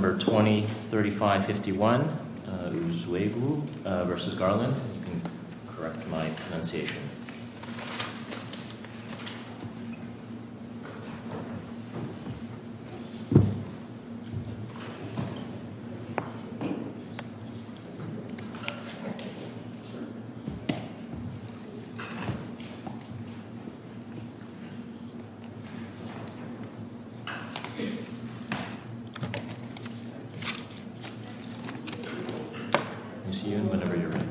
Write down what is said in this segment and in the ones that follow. Number 203551 Uzoegwu v. Garland You can correct my pronunciation Ms. Yun, whenever you're ready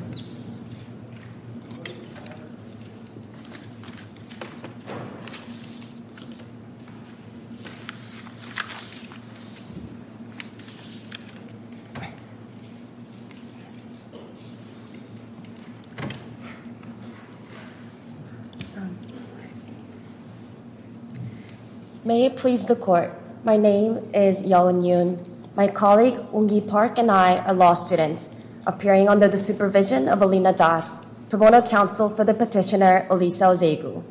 May it please the court. My name is Yeo Eun-yoon. My colleague, Oongi Park, and I are law students appearing under the supervision of Alina Das, pro bono counsel for the petitioner, Elisa Uzoegwu.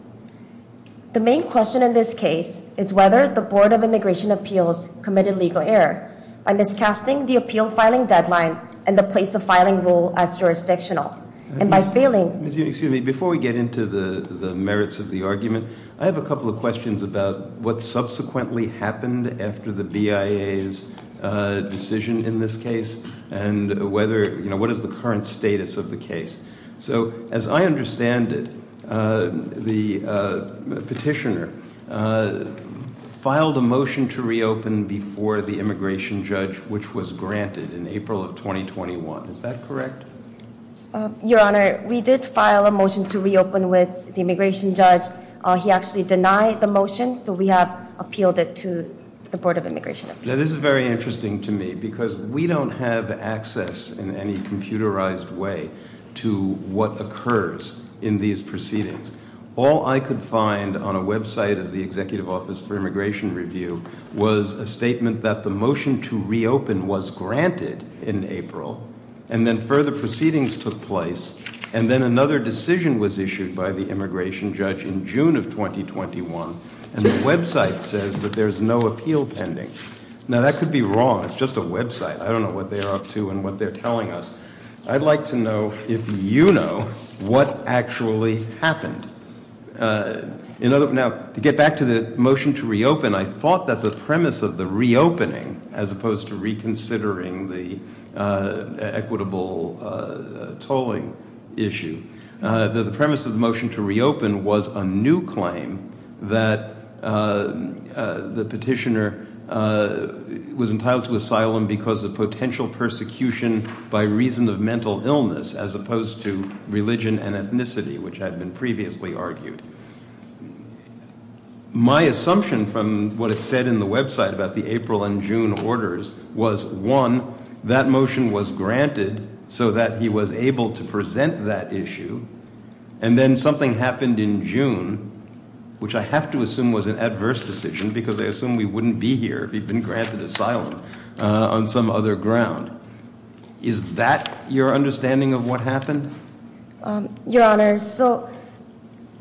The main question in this case is whether the Board of Immigration Appeals committed legal error by miscasting the appeal filing deadline and the place of filing rule as jurisdictional. Before we get into the merits of the argument, I have a couple of questions about what subsequently happened after the BIA's decision in this case and what is the current status of the case. As I understand it, the petitioner filed a motion to reopen before the immigration judge, which was granted in April of 2021. Is that correct? Your Honor, we did file a motion to reopen with the immigration judge. He actually denied the motion, so we have appealed it to the Board of Immigration. Now this is very interesting to me because we don't have access in any computerized way to what occurs in these proceedings. All I could find on a website of the was a statement that the motion to reopen was granted in April and then further proceedings took place and then another decision was issued by the immigration judge in June of 2021, and the website says that there's no appeal pending. Now that could be wrong. It's just a website. I don't know what they're up to and what they're telling us. I'd like to know if you know what actually happened. Now to get back to the motion to reopen, I thought that the premise of the reopening, as opposed to reconsidering the equitable tolling issue, that the premise of the motion to reopen was a new claim that the petitioner was entitled to asylum because of potential persecution by reason of mental illness as opposed to religion and ethnicity, which had been previously argued. My assumption from what it said in the website about the April and June orders was, one, that motion was granted so that he was able to present that issue, and then something happened in June, which I have to assume was an adverse decision because I assume we wouldn't be here if he'd been granted asylum on some other ground. Is that your understanding of what happened? Your Honor, so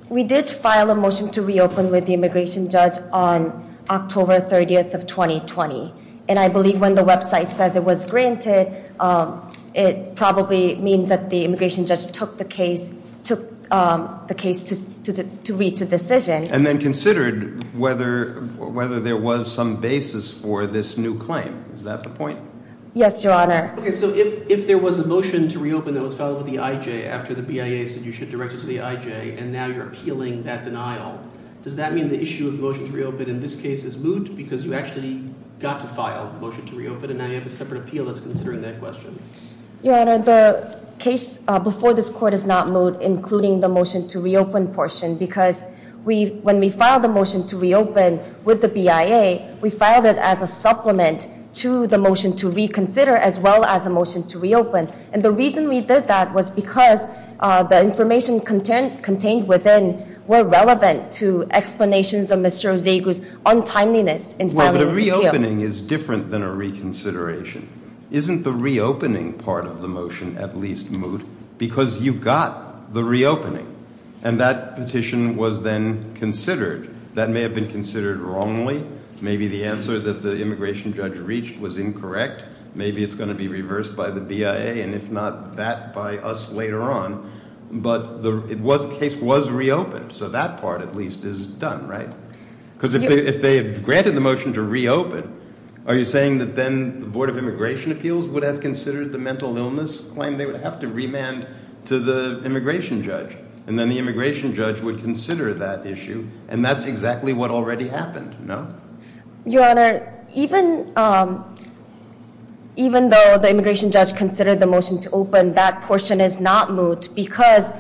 we did file a motion to reopen with the immigration judge on October 30th of 2020, and I believe when the website says it was granted, it probably means that the immigration judge took the case to reach a decision. And then considered whether there was some basis for this new claim. Is that the point? Yes, Your Honor. Okay, so if there was a motion to reopen that was filed with the IJ after the BIA said you should direct it to the IJ, and now you're appealing that denial, does that mean the issue of the motion to reopen in this case is moot because you actually got to file the motion to reopen and now you have a separate appeal that's considering that question? Your Honor, the case before this court is not moot, including the motion to reopen portion because when we filed the motion to reopen with the BIA, we filed it as a supplement to the motion to reconsider as well as a motion to reopen. And the reason we did that was because the information contained within were relevant to explanations of Mr. Ozegu's untimeliness in filing this appeal. Well, but a reopening is different than a reconsideration. Isn't the reopening part of the motion at least moot because you got the reopening and that petition was then considered. That may have been considered wrongly. Maybe the answer that the immigration judge reached was incorrect. Maybe it's going to be reversed by the BIA and if not that by us later on, but the case was reopened. So that part at least is done, right? Because if they had granted the motion to reopen, are you saying that then the Board of Immigration Appeals would have considered the mental illness claim they would have to remand to the immigration judge and then the immigration judge would consider that issue and that's exactly what already happened, no? Your Honor, even though the immigration judge considered the motion to open, that portion is not moot because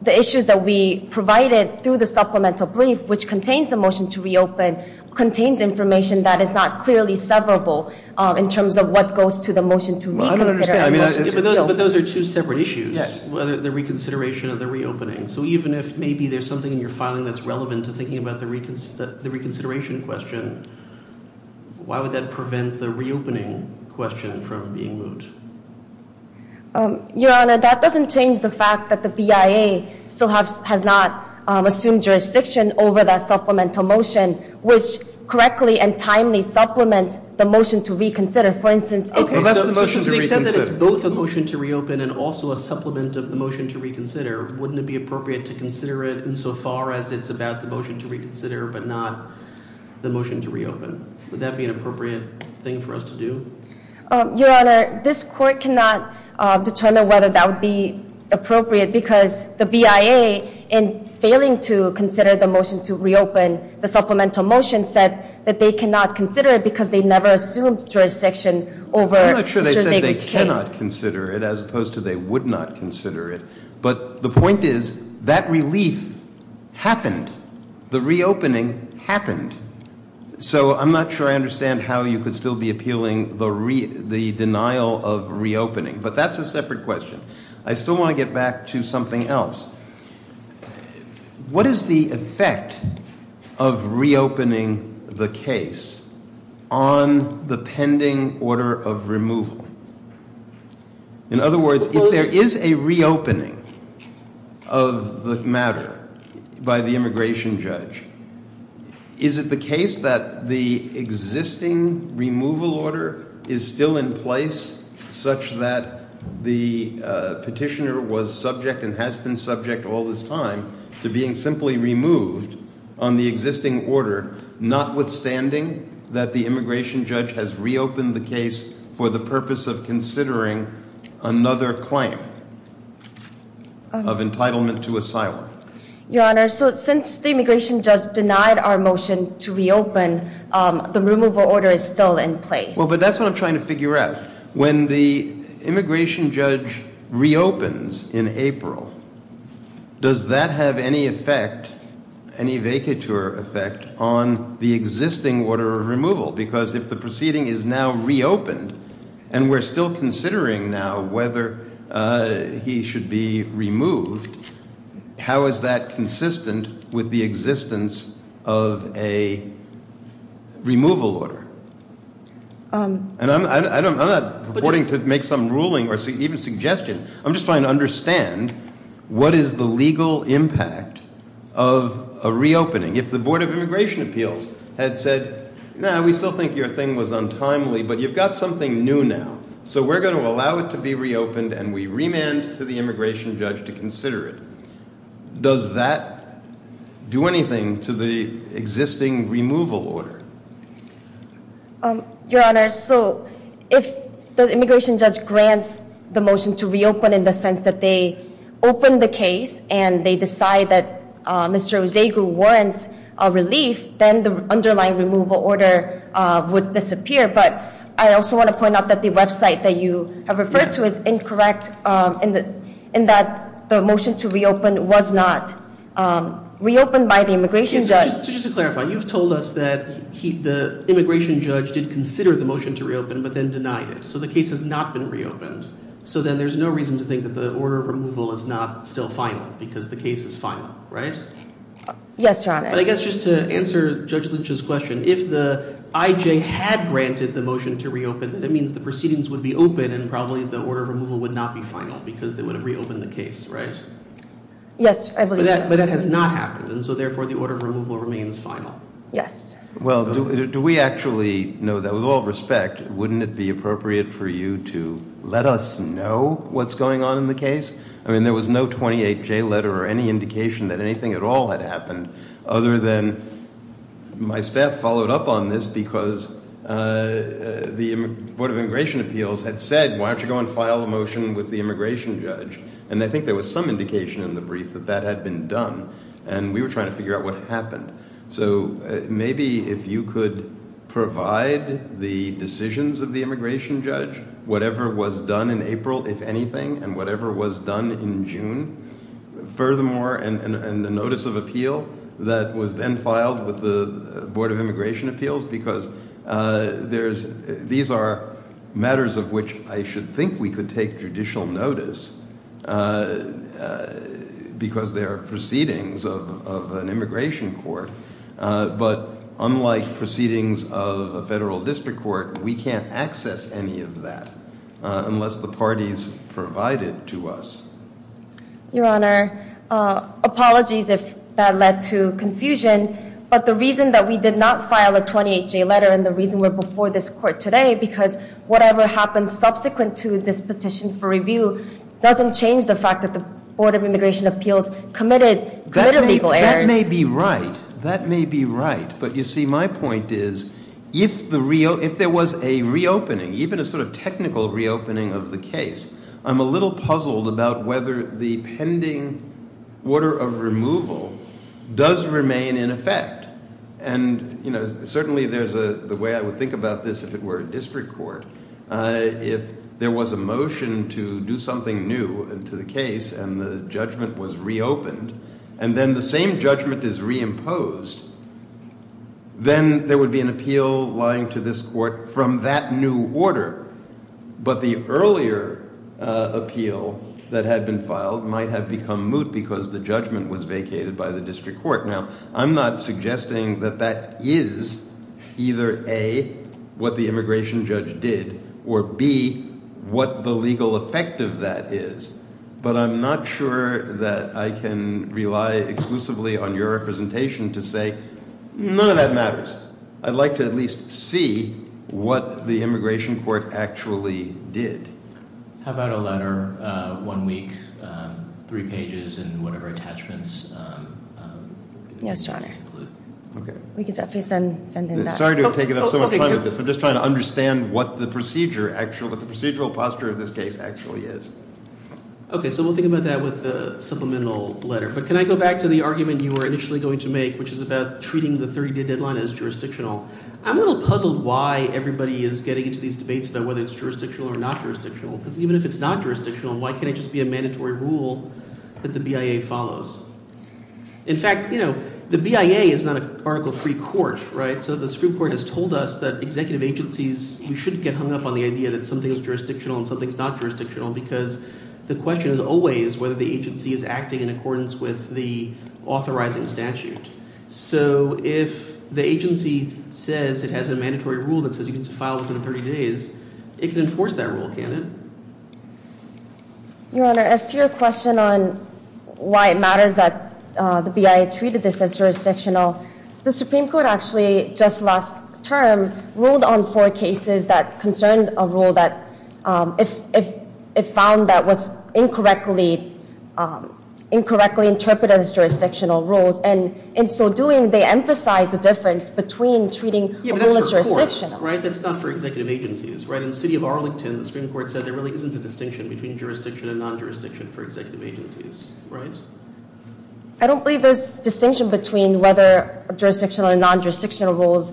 the issues that we provided through the supplemental brief which contains the motion to reopen contains information that is not clearly severable in terms of what goes to the motion to reconsider. But those are two separate issues, the reconsideration and the reopening. So even if maybe there's something in your filing that's relevant to thinking about the reconsideration question, why would that prevent the reopening question from being moot? Your Honor, that doesn't change the fact that the BIA still has not assumed jurisdiction over that supplemental motion which correctly and timely supplements the motion to reconsider. For instance, if- Okay, so since we said that it's both a motion to reopen and also a supplement of the motion to reconsider, wouldn't it be appropriate to consider it even so far as it's about the motion to reconsider but not the motion to reopen? Would that be an appropriate thing for us to do? Your Honor, this court cannot determine whether that would be appropriate because the BIA, in failing to consider the motion to reopen, the supplemental motion said that they cannot consider it because they never assumed jurisdiction over Mr. Segre's case. I'm not sure they said they cannot consider it as opposed to they would not consider it. But the point is, that relief happened. The reopening happened. So I'm not sure I understand how you could still be appealing the denial of reopening. But that's a separate question. I still want to get back to something else. What is the effect of reopening the case on the pending order of removal? In other words, if there is a reopening of the matter by the immigration judge, is it the case that the existing removal order is still in place, such that the petitioner was subject and has been subject all this time to being simply removed on the existing order, notwithstanding that the immigration judge has reopened the case for the purpose of considering another claim of entitlement to asylum? Your Honor, since the immigration judge denied our motion to reopen, the removal order is still in place. But that's what I'm trying to figure out. When the immigration judge reopens in April, does that have any effect, any vacatur effect, on the existing order of removal? Because if the proceeding is now reopened and we're still considering now whether he should be removed, how is that consistent with the existence of a removal order? And I'm not purporting to make some ruling or even suggestion. I'm just trying to understand what is the legal impact of a reopening. If the Board of Immigration Appeals had said, no, we still think your thing was untimely, but you've got something new now, so we're going to allow it to be reopened and we remand to the immigration judge to consider it, does that do anything to the existing removal order? Your Honor, so if the immigration judge grants the motion to reopen in the sense that they open the case and they decide that Mr. Osegu warrants a relief, then the underlying removal order would disappear. But I also want to point out that the website that you have referred to is incorrect in that the motion to reopen was not reopened by the immigration judge. So just to clarify, you've told us that the immigration judge did consider the motion to reopen but then denied it, so the case has not been reopened. So then there's no reason to think that the order of removal is not still final because the case is final, right? Yes, Your Honor. But I guess just to answer Judge Lynch's question, if the IJ had granted the motion to reopen, then it means the proceedings would be open and probably the order of removal would not be final because they would have reopened the case, right? Yes, I believe so. But that has not happened, and so therefore the order of removal remains final. Yes. Well, do we actually know that? With all respect, wouldn't it be appropriate for you to let us know what's going on in the case? I mean, there was no 28J letter or any indication that anything at all had happened other than my staff followed up on this because the Board of Immigration Appeals had said, why don't you go and file a motion with the immigration judge? And I think there was some indication in the brief that that had been done, and we were trying to figure out what happened. So maybe if you could provide the decisions of the immigration judge, whatever was done in April, if anything, and whatever was done in June, furthermore, and the notice of appeal that was then filed with the Board of Immigration Appeals because these are matters of which I should think we could take judicial notice because they are proceedings of an immigration court. But unlike proceedings of a federal district court, we can't access any of that unless the party's provided to us. Your Honor, apologies if that led to confusion, but the reason that we did not file a 28J letter and the reason we're before this court today because whatever happened subsequent to this petition for review doesn't change the fact that the Board of Immigration Appeals committed legal errors. That may be right. But you see, my point is, if there was a reopening, even a sort of technical reopening of the case, I'm a little puzzled about whether the pending order of removal does remain in effect. And, you know, certainly the way I would think about this, if it were a district court, if there was a motion to do something new to the case and the judgment was reopened and then the same judgment is reimposed, then there would be an appeal lying to this court from that new order. But the earlier appeal that had been filed might have become moot because the judgment was vacated by the district court. Now, I'm not suggesting that that is either A, what the immigration judge did, or B, what the legal effect of that is. But I'm not sure that I can rely exclusively on your representation to say none of that matters. I'd like to at least see what the immigration court actually did. How about a letter, one week, three pages, and whatever attachments? Yes, Your Honor. We could definitely send him that. Sorry to have taken up so much time with this. We're just trying to understand what the procedural posture of this case actually is. Okay, so we'll think about that with the supplemental letter. But can I go back to the argument you were initially going to make, which is about treating the 30-day deadline as jurisdictional? I'm a little puzzled why everybody is getting into these debates about whether it's jurisdictional or not jurisdictional because even if it's not jurisdictional, why can't it just be a mandatory rule that the BIA follows? In fact, the BIA is not an Article III court, right? So the Supreme Court has told us that executive agencies, we shouldn't get hung up on the idea that something is jurisdictional and something is not jurisdictional because the question is always whether the agency is acting in accordance with the authorizing statute. So if the agency says it has a mandatory rule that says you can file within 30 days, it can enforce that rule, can't it? Your Honor, as to your question on why it matters that the BIA treated this as jurisdictional, the Supreme Court actually just last term ruled on four cases that concerned a rule that it found that was incorrectly interpreted as jurisdictional rules, and in so doing, they emphasized the difference between treating a rule as jurisdictional. Yeah, but that's for courts, right? That's not for executive agencies, right? In the city of Arlington, the Supreme Court said there really isn't a distinction between jurisdiction and non-jurisdiction for executive agencies, right? I don't believe there's distinction between whether jurisdictional and non-jurisdictional rules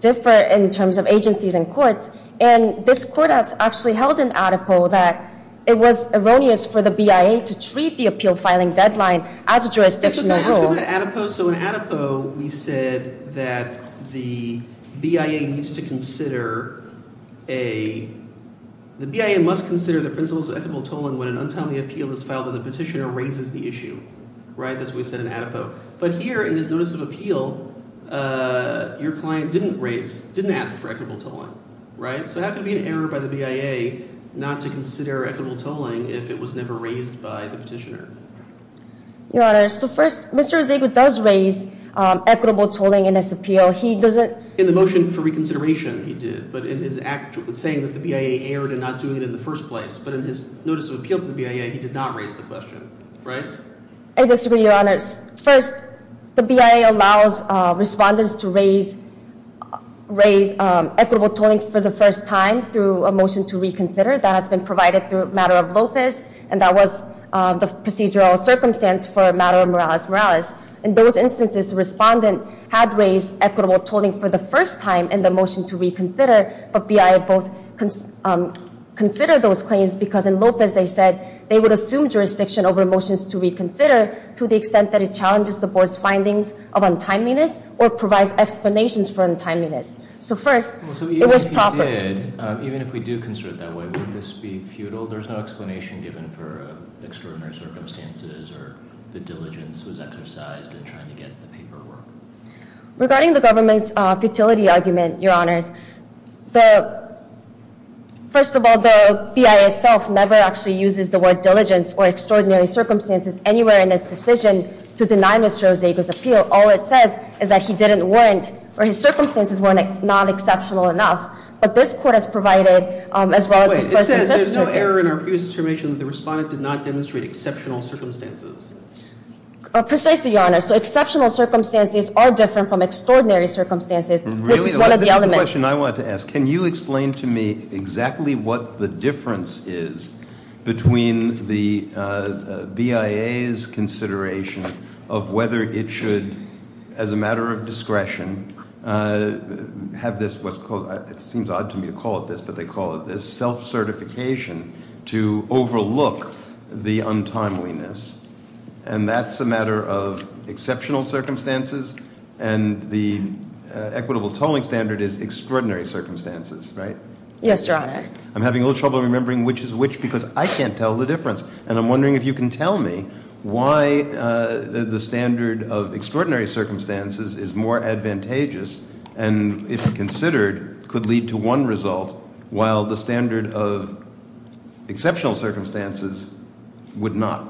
differ in terms of agencies and courts, and this court has actually held in ADEPO that it was erroneous for the BIA to treat the appeal filing deadline as a jurisdictional rule. So in ADEPO, we said that the BIA needs to consider a— the BIA must consider the principles of equitable tolling when an untimely appeal is filed and the petitioner raises the issue, right? That's what we said in ADEPO. But here, in his notice of appeal, your client didn't raise—didn't ask for equitable tolling, right? So how could it be an error by the BIA not to consider equitable tolling if it was never raised by the petitioner? Your Honor, so first, Mr. Rosego does raise equitable tolling in his appeal. He doesn't— In the motion for reconsideration, he did, but in his act— saying that the BIA erred in not doing it in the first place, but in his notice of appeal to the BIA, he did not raise the question, right? I disagree, Your Honor. First, the BIA allows respondents to raise equitable tolling for the first time through a motion to reconsider. That has been provided through a matter of Lopez, and that was the procedural circumstance for a matter of Morales-Morales. In those instances, the respondent had raised equitable tolling for the first time in the motion to reconsider, but BIA both considered those claims because in Lopez, they said they would assume jurisdiction over motions to reconsider to the extent that it challenges the board's findings of untimeliness or provides explanations for untimeliness. So first— So even if he did, even if we do consider it that way, would this be futile? There's no explanation given for extraordinary circumstances or the diligence was exercised in trying to get the paperwork. Regarding the government's futility argument, Your Honor, first of all, the BIA itself never actually uses the word diligence or extraordinary circumstances anywhere in its decision to deny Mr. Osega's appeal. All it says is that he didn't warrant, or his circumstances weren't not exceptional enough. But this court has provided, as well as— Wait. It says there's no error in our previous determination that the respondent did not demonstrate exceptional circumstances. Precisely, Your Honor. So exceptional circumstances are different from extraordinary circumstances, which is one of the elements— Really? This is the question I wanted to ask. Can you explain to me exactly what the difference is between the BIA's consideration of whether it should, as a matter of discretion, have this— it seems odd to me to call it this, but they call it this— self-certification to overlook the untimeliness. And that's a matter of exceptional circumstances, and the equitable tolling standard is extraordinary circumstances, right? Yes, Your Honor. I'm having a little trouble remembering which is which because I can't tell the difference. And I'm wondering if you can tell me why the standard of extraordinary circumstances is more advantageous and, if considered, could lead to one result, while the standard of exceptional circumstances would not.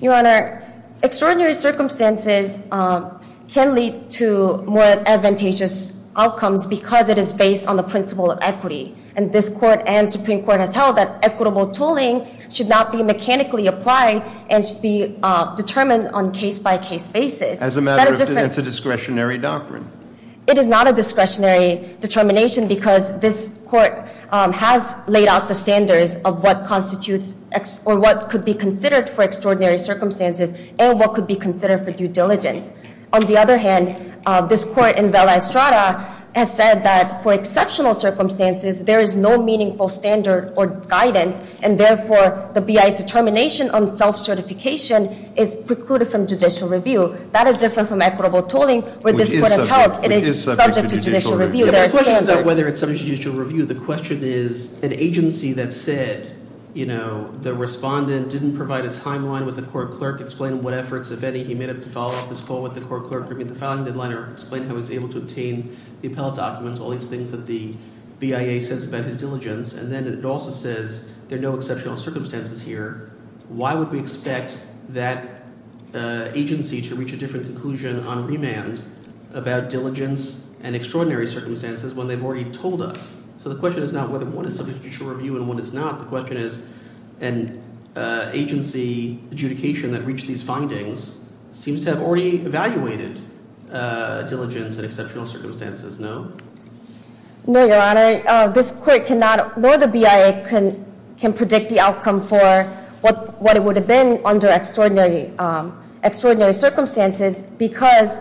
Your Honor, extraordinary circumstances can lead to more advantageous outcomes because it is based on the principle of equity. And this Court and Supreme Court has held that equitable tolling should not be mechanically applied and should be determined on a case-by-case basis. As a matter of discretionary doctrine. It is not a discretionary determination because this Court has laid out the standards of what constitutes or what could be considered for extraordinary circumstances and what could be considered for due diligence. On the other hand, this Court in Vela Estrada has said that for exceptional circumstances, there is no meaningful standard or guidance, and therefore the BIA's determination on self-certification is precluded from judicial review. That is different from equitable tolling, where this Court has held it is subject to judicial review. The question is not whether it is subject to judicial review. The question is an agency that said, you know, the respondent didn't provide a timeline with the court clerk, explain what efforts, if any, he made up to follow up his call with the court clerk, or meet the filing deadline or explain how he was able to obtain the appellate documents, all these things that the BIA says about his diligence, and then it also says there are no exceptional circumstances here. So the question is not whether one is subject to judicial review and one is not. The question is an agency adjudication that reached these findings seems to have already evaluated diligence in exceptional circumstances. No? No, Your Honor. This Court cannot, nor the BIA, can predict the outcome for what it would have been under extraordinary circumstances because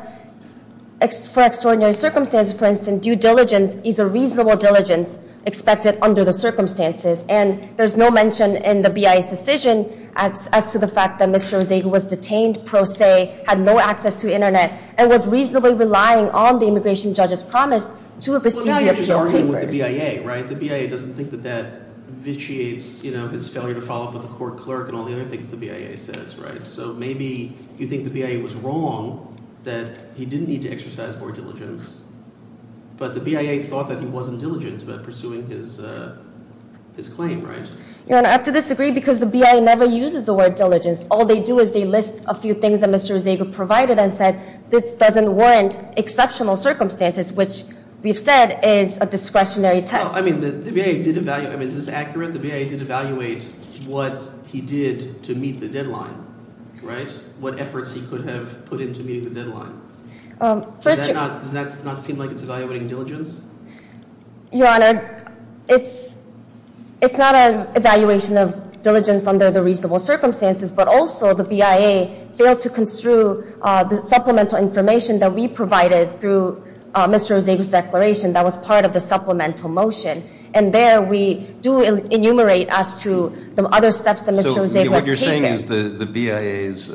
for extraordinary circumstances, for instance, due diligence is a reasonable diligence expected under the circumstances. And there's no mention in the BIA's decision as to the fact that Mr. Rozego was detained pro se, had no access to the Internet, and was reasonably relying on the immigration judge's promise to receive the appeal papers. Well, now you're just arguing with the BIA, right? The BIA doesn't think that that vitiates his failure to follow up with the court clerk and all the other things the BIA says, right? So maybe you think the BIA was wrong that he didn't need to exercise more diligence, but the BIA thought that he wasn't diligent about pursuing his claim, right? Your Honor, I have to disagree because the BIA never uses the word diligence. All they do is they list a few things that Mr. Rozego provided and said, this doesn't warrant exceptional circumstances, which we've said is a discretionary test. Well, I mean, the BIA did evaluate. I mean, is this accurate? The BIA did evaluate what he did to meet the deadline, right? What efforts he could have put into meeting the deadline. Does that not seem like it's evaluating diligence? Your Honor, it's not an evaluation of diligence under the reasonable circumstances, but also the BIA failed to construe the supplemental information that we provided through Mr. Rozego's declaration. That was part of the supplemental motion. And there we do enumerate as to the other steps that Mr. Rozego has taken. So what you're saying is the BIA's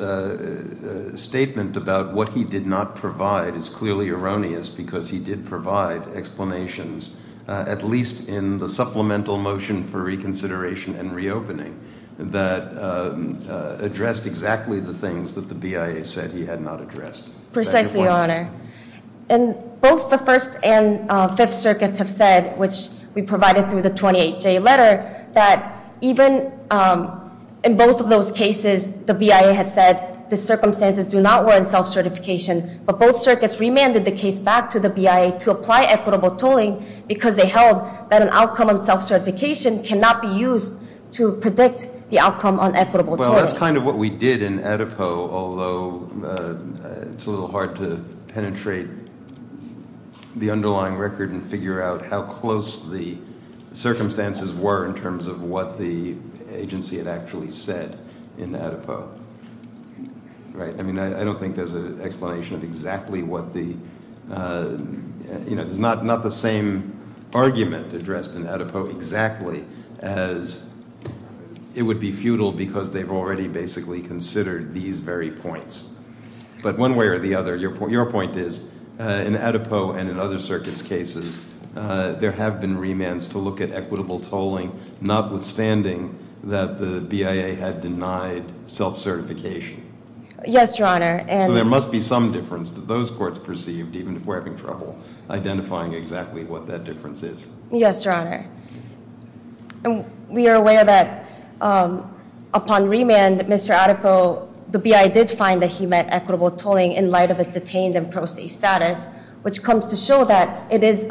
statement about what he did not provide is clearly erroneous because he did provide explanations, at least in the supplemental motion for reconsideration and reopening, that addressed exactly the things that the BIA said he had not addressed. Precisely, Your Honor. And both the First and Fifth Circuits have said, which we provided through the 28J letter, that even in both of those cases, the BIA had said the circumstances do not warrant self-certification, but both circuits remanded the case back to the BIA to apply equitable tolling because they held that an outcome of self-certification cannot be used to predict the outcome on equitable tolling. Well, that's kind of what we did in Adipo, although it's a little hard to penetrate the underlying record and figure out how close the circumstances were in terms of what the agency had actually said in Adipo. I mean, I don't think there's an explanation of exactly what the, you know, considered these very points. But one way or the other, your point is, in Adipo and in other circuits' cases, there have been remands to look at equitable tolling, notwithstanding that the BIA had denied self-certification. Yes, Your Honor. So there must be some difference that those courts perceived, even if we're having trouble identifying exactly what that difference is. Yes, Your Honor. We are aware that upon remand, Mr. Adipo, the BIA did find that he met equitable tolling in light of his detained and pro se status, which comes to show that it is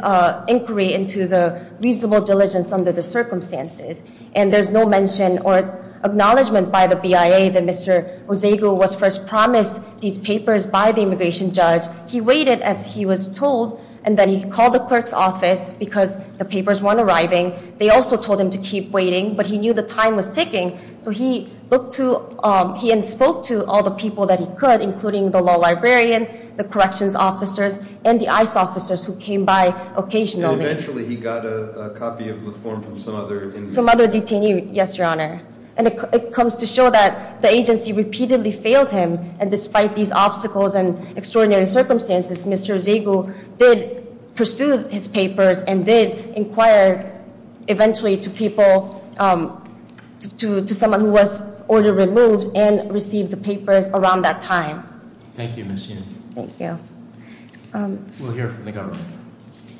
inquiry into the reasonable diligence under the circumstances. And there's no mention or acknowledgement by the BIA that Mr. Osegu was first promised these papers by the immigration judge. He waited, as he was told, and then he called the clerk's office because the papers weren't arriving. They also told him to keep waiting, but he knew the time was ticking, so he looked to, he spoke to all the people that he could, including the law librarian, the corrections officers, and the ICE officers who came by occasionally. And eventually he got a copy of the form from some other inmate. Some other detainee, yes, Your Honor. And it comes to show that the agency repeatedly failed him. And despite these obstacles and extraordinary circumstances, Mr. Osegu did pursue his papers and did inquire eventually to people, to someone who was order removed and received the papers around that time. Thank you, Ms. Yin. Thank you. We'll hear from the government. Thank you.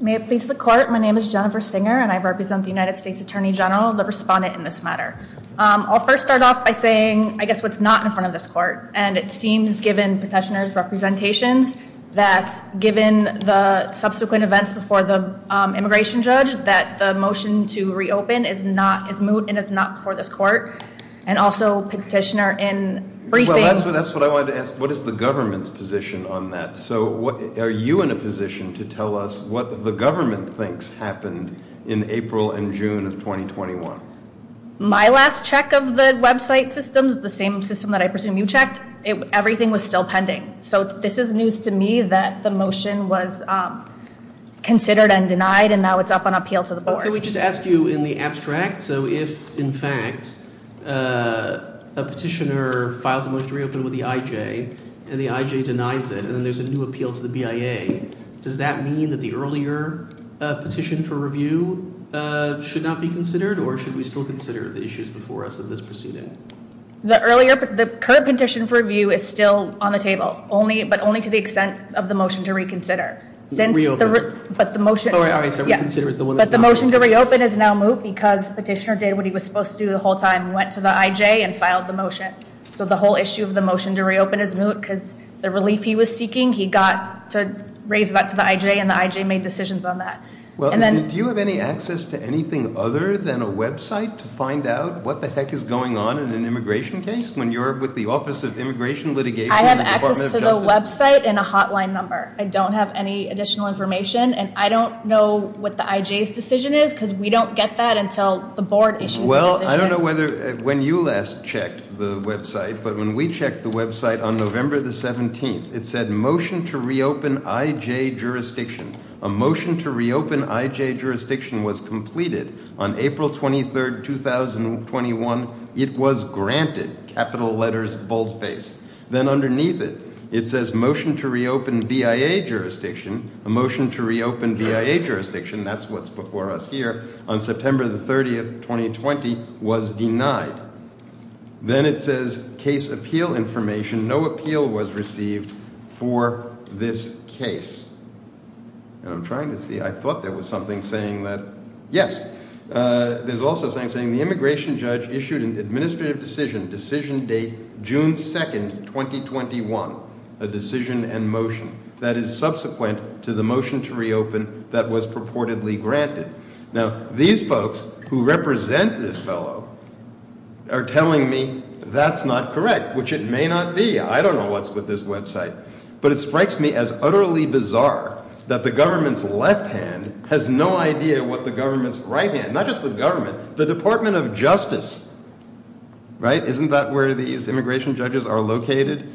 May it please the court. My name is Jennifer Singer, and I represent the United States Attorney General, the respondent in this matter. I'll first start off by saying, I guess, what's not in front of this court. And it seems, given Petitioner's representations, that given the subsequent events before the immigration judge, that the motion to reopen is not, is moot and is not before this court. And also, Petitioner, in briefing. Well, that's what I wanted to ask. What is the government's position on that? So are you in a position to tell us what the government thinks happened in April and June of 2021? My last check of the website systems, the same system that I presume you checked, everything was still pending. So this is news to me that the motion was considered and denied, and now it's up on appeal to the board. Can we just ask you in the abstract, so if, in fact, a petitioner files a motion to reopen with the IJ, and the IJ denies it, and then there's a new appeal to the BIA, does that mean that the earlier petition for review should not be considered, or should we still consider the issues before us in this proceeding? The earlier, the current petition for review is still on the table, only, but only to the extent of the motion to reconsider. Since the, but the motion. All right, all right, so reconsider is the one that's not. But the motion to reopen is now moot because Petitioner did what he was supposed to do the whole time, went to the IJ and filed the motion. So the whole issue of the motion to reopen is moot because the relief he was seeking, he got to raise that to the IJ, and the IJ made decisions on that. Well, do you have any access to anything other than a website to find out what the heck is going on in an immigration case when you're with the Office of Immigration Litigation and the Department of Justice? I have access to the website and a hotline number. I don't have any additional information, and I don't know what the IJ's decision is because we don't get that until the board issues a decision. I don't know whether, when you last checked the website, but when we checked the website on November the 17th, it said motion to reopen IJ jurisdiction. A motion to reopen IJ jurisdiction was completed on April 23rd, 2021. It was granted, capital letters, boldface. Then underneath it, it says motion to reopen BIA jurisdiction. A motion to reopen BIA jurisdiction, that's what's before us here, on September the 30th, 2020, was denied. Then it says case appeal information. No appeal was received for this case. I'm trying to see. I thought there was something saying that. Yes, there's also something saying the immigration judge issued an administrative decision, decision date June 2nd, 2021, a decision and motion that is subsequent to the motion to reopen that was purportedly granted. Now, these folks who represent this fellow are telling me that's not correct, which it may not be. I don't know what's with this website. But it strikes me as utterly bizarre that the government's left hand has no idea what the government's right hand, not just the government, the Department of Justice, right? Isn't that where these immigration judges are located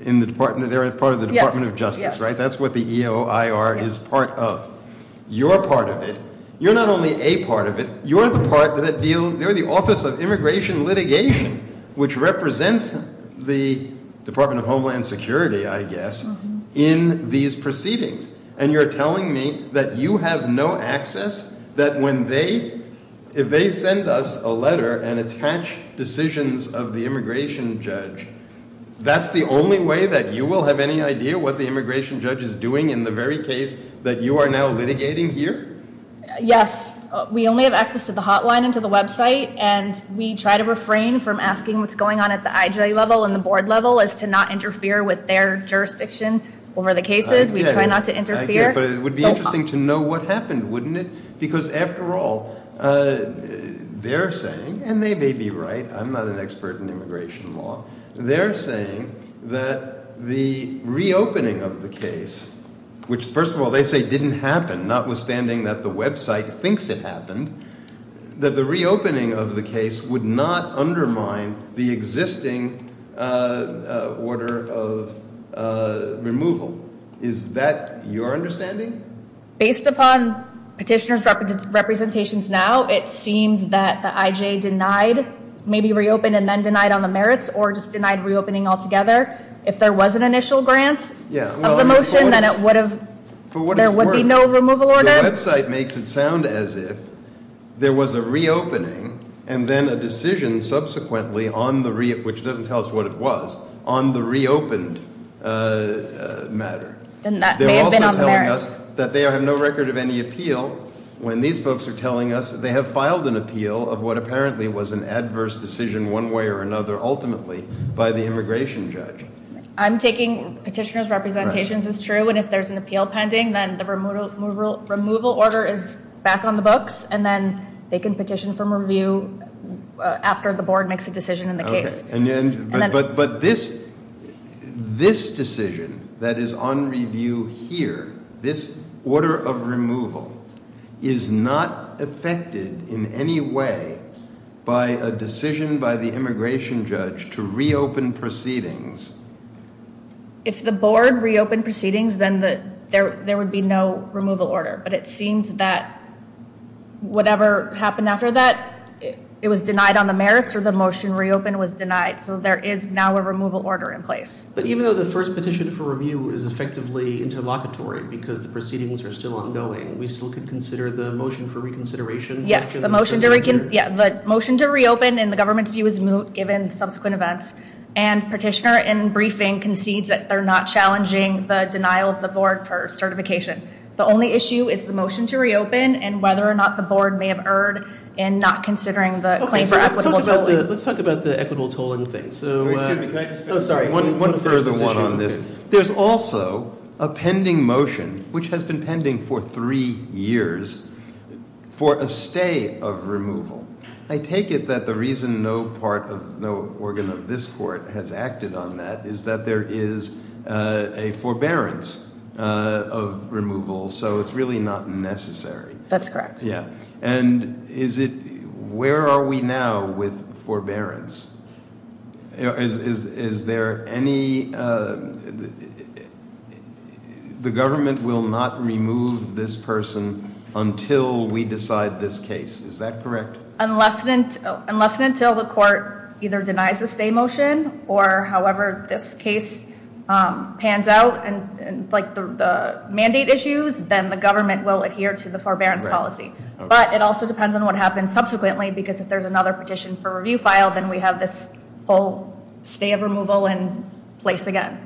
in the department? They're a part of the Department of Justice, right? That's what the EOIR is part of. You're part of it. You're not only a part of it. You're the part that deal, they're the Office of Immigration Litigation, which represents the Department of Homeland Security, I guess, in these proceedings. And you're telling me that you have no access, that when they, if they send us a letter and attach decisions of the immigration judge, that's the only way that you will have any idea what the immigration judge is doing in the very case that you are now litigating here? Yes. We only have access to the hotline and to the website. And we try to refrain from asking what's going on at the IJ level and the board level as to not interfere with their jurisdiction over the cases. We try not to interfere. I get it. But it would be interesting to know what happened, wouldn't it? Because, after all, they're saying, and they may be right. I'm not an expert in immigration law. They're saying that the reopening of the case, which, first of all, they say didn't happen, notwithstanding that the website thinks it happened, that the reopening of the case would not undermine the existing order of removal. Is that your understanding? Based upon petitioner's representations now, it seems that the IJ denied, maybe reopened and then denied on the merits or just denied reopening altogether. If there was an initial grant of the motion, then it would have, there would be no removal order? The website makes it sound as if there was a reopening and then a decision subsequently on the, which doesn't tell us what it was, on the reopened matter. Then that may have been on the merits. They're also telling us that they have no record of any appeal. When these folks are telling us that they have filed an appeal of what apparently was an adverse decision one way or another, ultimately, by the immigration judge. I'm taking petitioner's representations as true. And if there's an appeal pending, then the removal order is back on the books. And then they can petition for review after the board makes a decision in the case. But this decision that is on review here, this order of removal, is not affected in any way by a decision by the immigration judge to reopen proceedings. If the board reopened proceedings, then there would be no removal order. But it seems that whatever happened after that, it was denied on the merits or the motion reopened was denied. So there is now a removal order in place. But even though the first petition for review is effectively interlocutory because the proceedings are still ongoing, we still could consider the motion for reconsideration? Yes, the motion to reopen in the government's view is moot given subsequent events. And petitioner in briefing concedes that they're not challenging the denial of the board for certification. The only issue is the motion to reopen and whether or not the board may have erred in not considering the claim for equitable tolling. Let's talk about the equitable tolling thing. Excuse me, can I just finish? Sorry, one further one on this. There's also a pending motion, which has been pending for three years, for a stay of removal. I take it that the reason no organ of this court has acted on that is that there is a forbearance of removal. So it's really not necessary. That's correct. And where are we now with forbearance? Is there any, the government will not remove this person until we decide this case. Is that correct? Unless and until the court either denies the stay motion or however this case pans out, like the mandate issues, then the government will adhere to the forbearance policy. But it also depends on what happens subsequently because if there's another petition for review file, then we have this whole stay of removal in place again.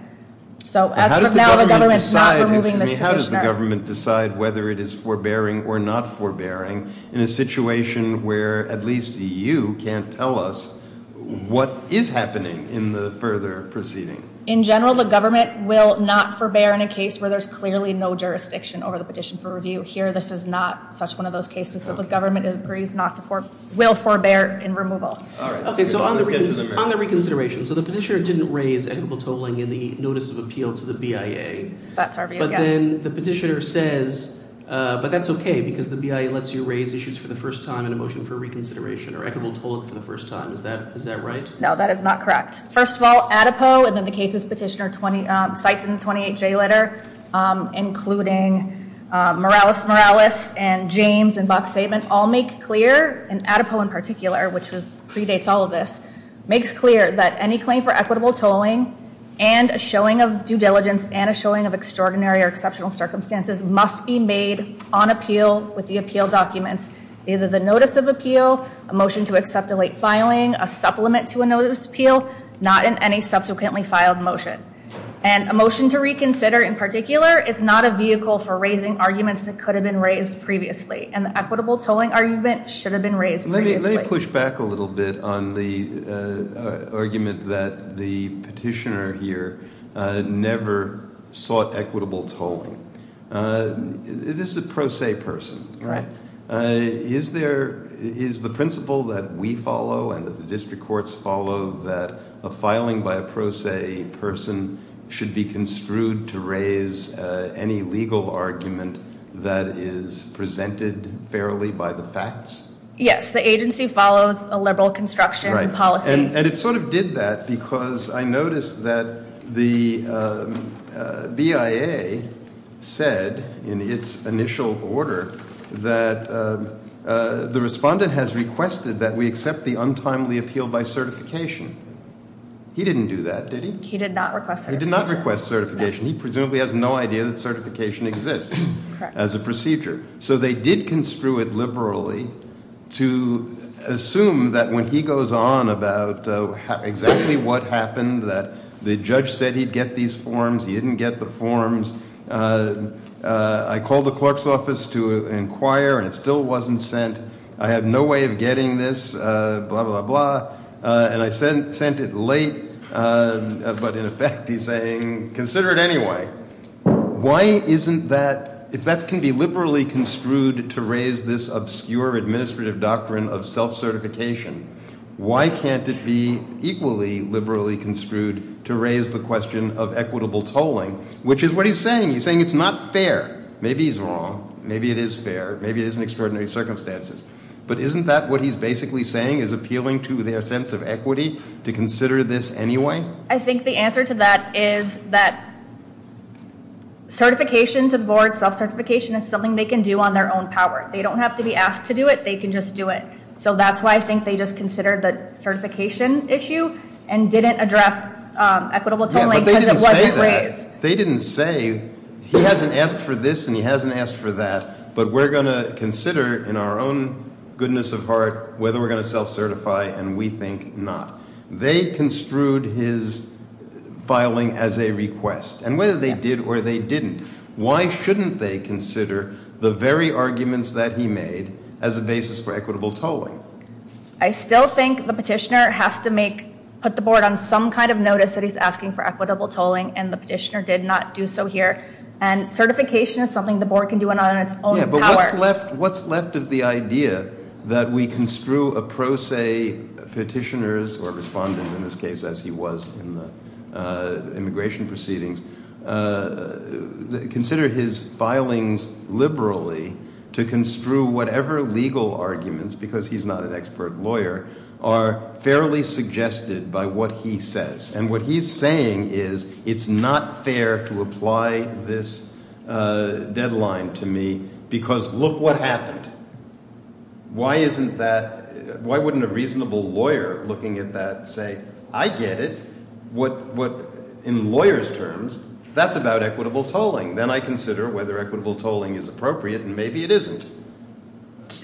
So as of now, the government is not removing this petitioner. How does the government decide whether it is forbearing or not forbearing in a situation where at least you can't tell us what is happening in the further proceeding? In general, the government will not forbear in a case where there's clearly no jurisdiction over the petition for review. Here, this is not such one of those cases. So the government agrees not to forbear, will forbear in removal. Okay, so on the reconsideration. So the petitioner didn't raise equitable tolling in the notice of appeal to the BIA. That's our view, yes. But then the petitioner says, but that's okay because the BIA lets you raise issues for the first time in a motion for reconsideration or equitable tolling for the first time. Is that right? No, that is not correct. First of all, ADEPO and then the cases petitioner cites in the 28J letter, including Morales-Morales and James and Buck's statement all make clear, and ADEPO in particular, which predates all of this, makes clear that any claim for equitable tolling and a showing of due diligence and a showing of extraordinary or exceptional circumstances must be made on appeal with the appeal documents. Either the notice of appeal, a motion to accept a late filing, a supplement to a notice of appeal, not in any subsequently filed motion. And a motion to reconsider in particular, it's not a vehicle for raising arguments that could have been raised previously. And the equitable tolling argument should have been raised previously. Let me push back a little bit on the argument that the petitioner here never sought equitable tolling. This is a pro se person. Right. Is the principle that we follow and that the district courts follow that a filing by a pro se person should be construed to raise any legal argument that is presented fairly by the facts? Yes, the agency follows a liberal construction policy. And it sort of did that because I noticed that the BIA said in its initial order that the respondent has requested that we accept the untimely appeal by certification. He didn't do that, did he? He did not request certification. He did not request certification. He presumably has no idea that certification exists as a procedure. So they did construe it liberally to assume that when he goes on about exactly what happened, that the judge said he'd get these forms. He didn't get the forms. I called the clerk's office to inquire, and it still wasn't sent. I have no way of getting this, blah, blah, blah. And I sent it late. But in effect, he's saying consider it anyway. Why isn't that, if that can be liberally construed to raise this obscure administrative doctrine of self-certification, why can't it be equally liberally construed to raise the question of equitable tolling? Which is what he's saying. He's saying it's not fair. Maybe he's wrong. Maybe it is fair. Maybe it is in extraordinary circumstances. But isn't that what he's basically saying is appealing to their sense of equity to consider this anyway? I think the answer to that is that certification to the board, self-certification, is something they can do on their own power. They don't have to be asked to do it. They can just do it. So that's why I think they just considered the certification issue and didn't address equitable tolling because it wasn't raised. Yeah, but they didn't say that. They didn't say he hasn't asked for this and he hasn't asked for that. But we're going to consider in our own goodness of heart whether we're going to self-certify, and we think not. They construed his filing as a request. And whether they did or they didn't, why shouldn't they consider the very arguments that he made as a basis for equitable tolling? I still think the petitioner has to put the board on some kind of notice that he's asking for equitable tolling, and the petitioner did not do so here. And certification is something the board can do on its own power. What's left of the idea that we construe a pro se petitioner's, or respondent in this case as he was in the immigration proceedings, consider his filings liberally to construe whatever legal arguments, because he's not an expert lawyer, are fairly suggested by what he says. And what he's saying is, it's not fair to apply this deadline to me because look what happened. Why isn't that, why wouldn't a reasonable lawyer looking at that say, I get it. In lawyers' terms, that's about equitable tolling. Then I consider whether equitable tolling is appropriate, and maybe it isn't.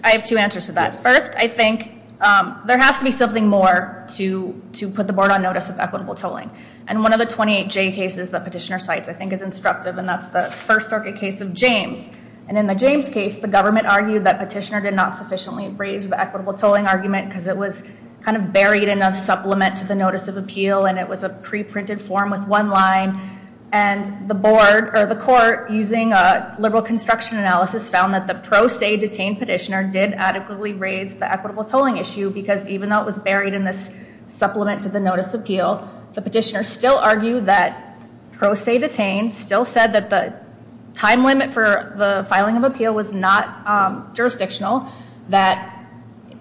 I have two answers to that. First, I think there has to be something more to put the board on notice of equitable tolling. And one of the 28J cases that petitioner cites I think is instructive, and that's the First Circuit case of James. And in the James case, the government argued that petitioner did not sufficiently raise the equitable tolling argument, because it was kind of buried in a supplement to the notice of appeal, and it was a pre-printed form with one line. And the board, or the court, using a liberal construction analysis, found that the pro se detained petitioner did adequately raise the equitable tolling issue, because even though it was buried in this supplement to the notice of appeal, the petitioner still argued that pro se detained, still said that the time limit for the filing of appeal was not jurisdictional, that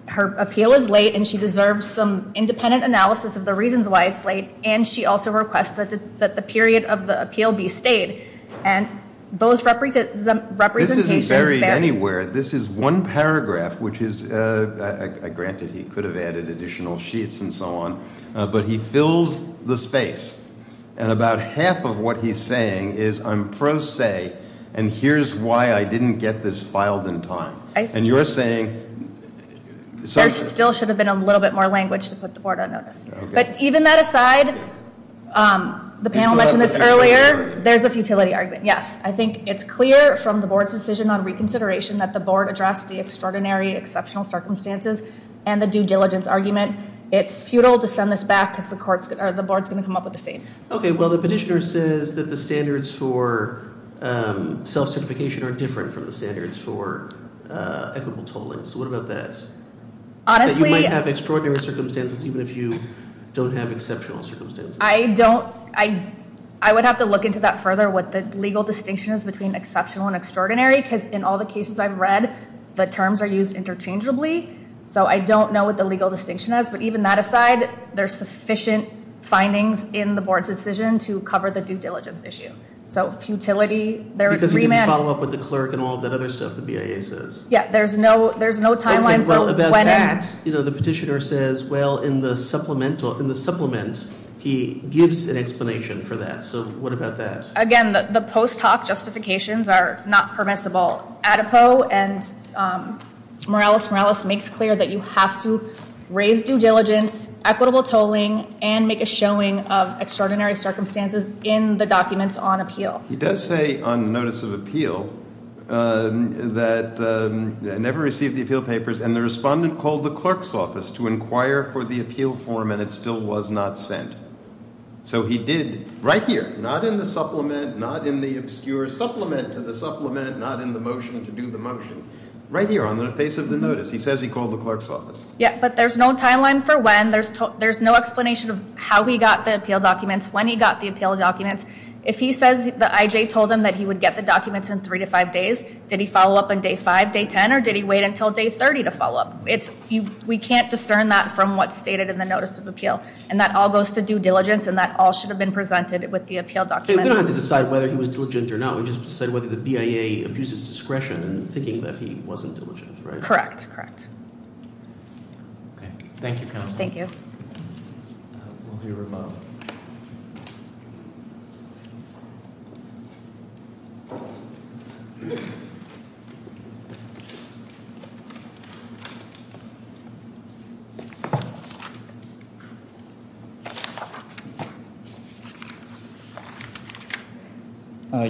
her appeal is late, and she deserves some independent analysis of the reasons why it's late, and she also requests that the period of the appeal be stayed. And those representations vary. This isn't buried anywhere. This is one paragraph, which is granted he could have added additional sheets and so on, but he fills the space. And about half of what he's saying is I'm pro se, and here's why I didn't get this filed in time. I see. And you're saying – There still should have been a little bit more language to put the board on notice. But even that aside, the panel mentioned this earlier. There's a futility argument, yes. I think it's clear from the board's decision on reconsideration that the board addressed the extraordinary exceptional circumstances and the due diligence argument. It's futile to send this back because the board's going to come up with the same. Okay, well, the petitioner says that the standards for self-certification are different from the standards for equitable tolling. So what about that? Honestly – That you might have extraordinary circumstances even if you don't have exceptional circumstances. I don't – I would have to look into that further, what the legal distinction is between exceptional and extraordinary, because in all the cases I've read, the terms are used interchangeably. So I don't know what the legal distinction is. But even that aside, there's sufficient findings in the board's decision to cover the due diligence issue. So futility – Because you didn't follow up with the clerk and all of that other stuff the BIA says. Yeah, there's no timeline for when – Okay, well, about that, the petitioner says, well, in the supplement, he gives an explanation for that. So what about that? Again, the post hoc justifications are not permissible. ADEPO and Morales-Morales makes clear that you have to raise due diligence, equitable tolling, and make a showing of extraordinary circumstances in the documents on appeal. He does say on the notice of appeal that never received the appeal papers, and the respondent called the clerk's office to inquire for the appeal form, and it still was not sent. So he did right here, not in the supplement, not in the obscure supplement to the supplement, not in the motion to do the motion, right here on the face of the notice. He says he called the clerk's office. Yeah, but there's no timeline for when. There's no explanation of how he got the appeal documents, when he got the appeal documents. If he says the IJ told him that he would get the documents in three to five days, did he follow up on day five, day ten, or did he wait until day 30 to follow up? We can't discern that from what's stated in the notice of appeal, and that all goes to due diligence, and that all should have been presented with the appeal documents. We don't have to decide whether he was diligent or not. We just decide whether the BIA abuses discretion in thinking that he wasn't diligent, right? Correct, correct. Okay, thank you, counsel. Thank you. We'll hear from Bob. Thank you.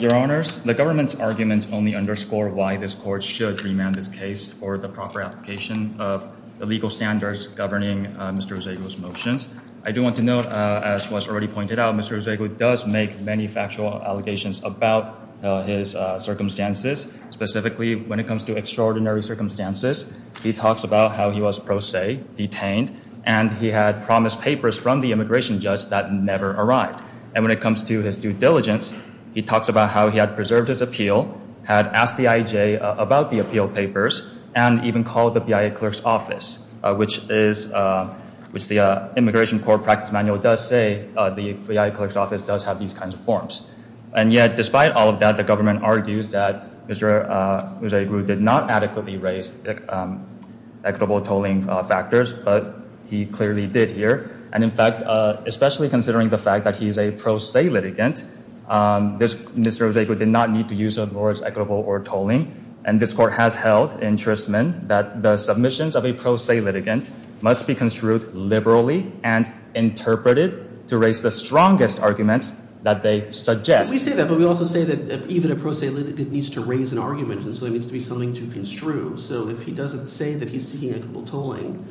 Your Honors, the government's arguments only underscore why this court should remand this case for the proper application of the legal standards governing Mr. Ezegui's motions. I do want to note, as was already pointed out, Mr. Ezegui does make many factual allegations about his circumstances. Specifically, when it comes to extraordinary circumstances, he talks about how he was pro se, detained, and he had promised papers from the immigration judge that never arrived. And when it comes to his due diligence, he talks about how he had preserved his appeal, had asked the IJ about the appeal papers, and even called the BIA clerk's office, which the immigration court practice manual does say the BIA clerk's office does have these kinds of forms. And yet, despite all of that, the government argues that Mr. Ezegui did not adequately raise equitable tolling factors, but he clearly did here. And in fact, especially considering the fact that he is a pro se litigant, Mr. Ezegui did not need to use the words equitable or tolling. And this court has held in Tristman that the submissions of a pro se litigant must be construed liberally and interpreted to raise the strongest argument that they suggest. We say that, but we also say that even a pro se litigant needs to raise an argument, and so there needs to be something to construe. So if he doesn't say that he's seeking equitable tolling,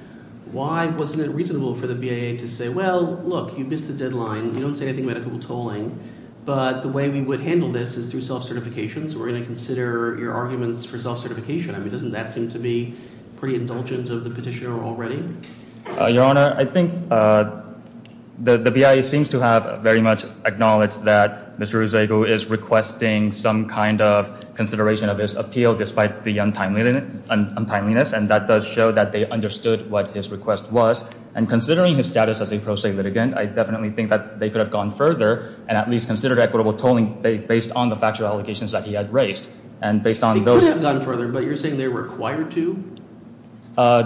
why wasn't it reasonable for the BIA to say, well, look, you missed the deadline. You don't say anything about equitable tolling, but the way we would handle this is through self-certification. So we're going to consider your arguments for self-certification. I mean, doesn't that seem to be pretty indulgent of the petitioner already? Your Honor, I think the BIA seems to have very much acknowledged that Mr. Ezegui is requesting some kind of consideration of his appeal despite the untimeliness, and that does show that they understood what his request was. And considering his status as a pro se litigant, I definitely think that they could have gone further and at least considered equitable tolling based on the factual allegations that he had raised. And based on those— They could have gone further, but you're saying they're required to?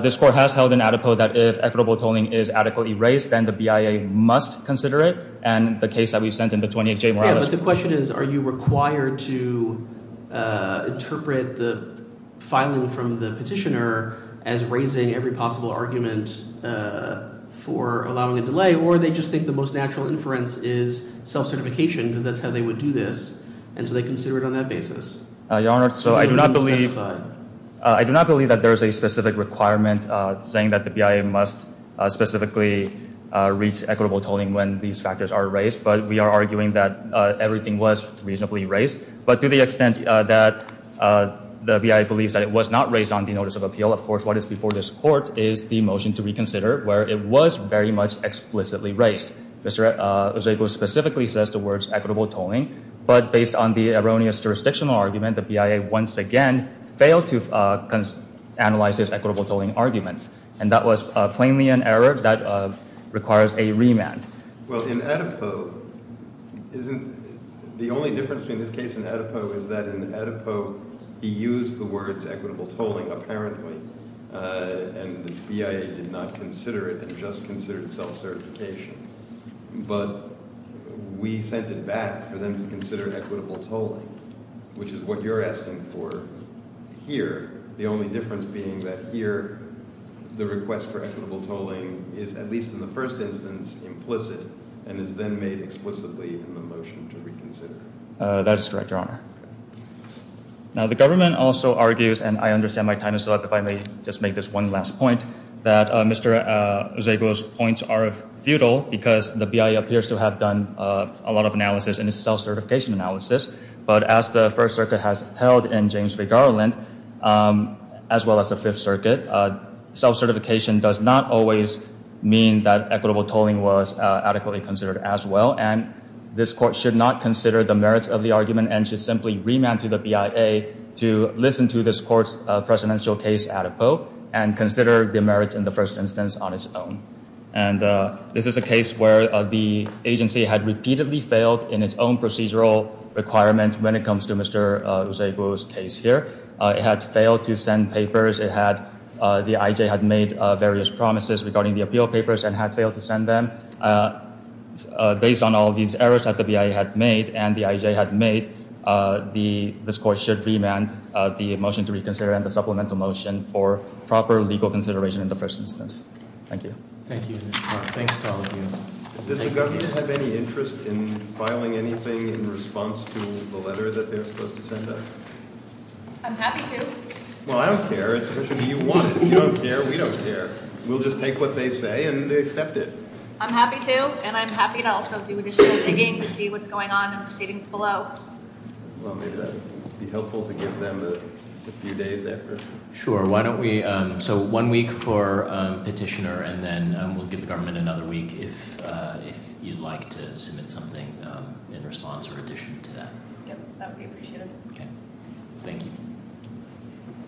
This court has held an adipose that if equitable tolling is adequately raised, then the BIA must consider it, and the case that we've sent in, the 28J— Yeah, but the question is, are you required to interpret the filing from the petitioner as raising every possible argument for allowing a delay, or they just think the most natural inference is self-certification because that's how they would do this, and so they consider it on that basis? Your Honor, I do not believe that there is a specific requirement saying that the BIA must specifically reach equitable tolling when these factors are raised, but we are arguing that everything was reasonably raised. But to the extent that the BIA believes that it was not raised on the notice of appeal, of course, what is before this court is the motion to reconsider where it was very much explicitly raised. Mr. Eusebio specifically says the words equitable tolling, but based on the erroneous jurisdictional argument, the BIA once again failed to analyze his equitable tolling arguments, and that was plainly an error that requires a remand. Well, in adipose, isn't— The only difference between this case and adipose is that in adipose, he used the words equitable tolling apparently, and the BIA did not consider it and just considered self-certification. But we sent it back for them to consider equitable tolling, which is what you're asking for here, the only difference being that here the request for equitable tolling is, at least in the first instance, implicit and is then made explicitly in the motion to reconsider. That is correct, Your Honor. Now, the government also argues, and I understand my time is up, if I may just make this one last point, that Mr. Eusebio's points are futile because the BIA appears to have done a lot of analysis, and it's self-certification analysis, but as the First Circuit has held in James v. Garland, as well as the Fifth Circuit, self-certification does not always mean that equitable tolling was adequately considered as well, and this Court should not consider the merits of the argument and should simply remand to the BIA to listen to this Court's presidential case adipose and consider the merits in the first instance on its own. And this is a case where the agency had repeatedly failed in its own procedural requirements when it comes to Mr. Eusebio's case here. It had failed to send papers. The IJ had made various promises regarding the appeal papers and had failed to send them. Based on all these errors that the BIA had made and the IJ had made, this Court should remand the motion to reconsider and the supplemental motion for proper legal consideration in the first instance. Thank you. Thank you, Mr. Mark. Thanks to all of you. Does the government have any interest in filing anything in response to the letter that they're supposed to send us? I'm happy to. Well, I don't care. It's up to you. You want it. If you don't care, we don't care. We'll just take what they say and accept it. I'm happy to, and I'm happy to also do additional digging to see what's going on in the proceedings below. Well, maybe that would be helpful to give them a few days after. Sure. Why don't we, so one week for petitioner, and then we'll give the government another week if you'd like to submit something in response or addition to that. Yep, that would be appreciated. Okay. Thank you.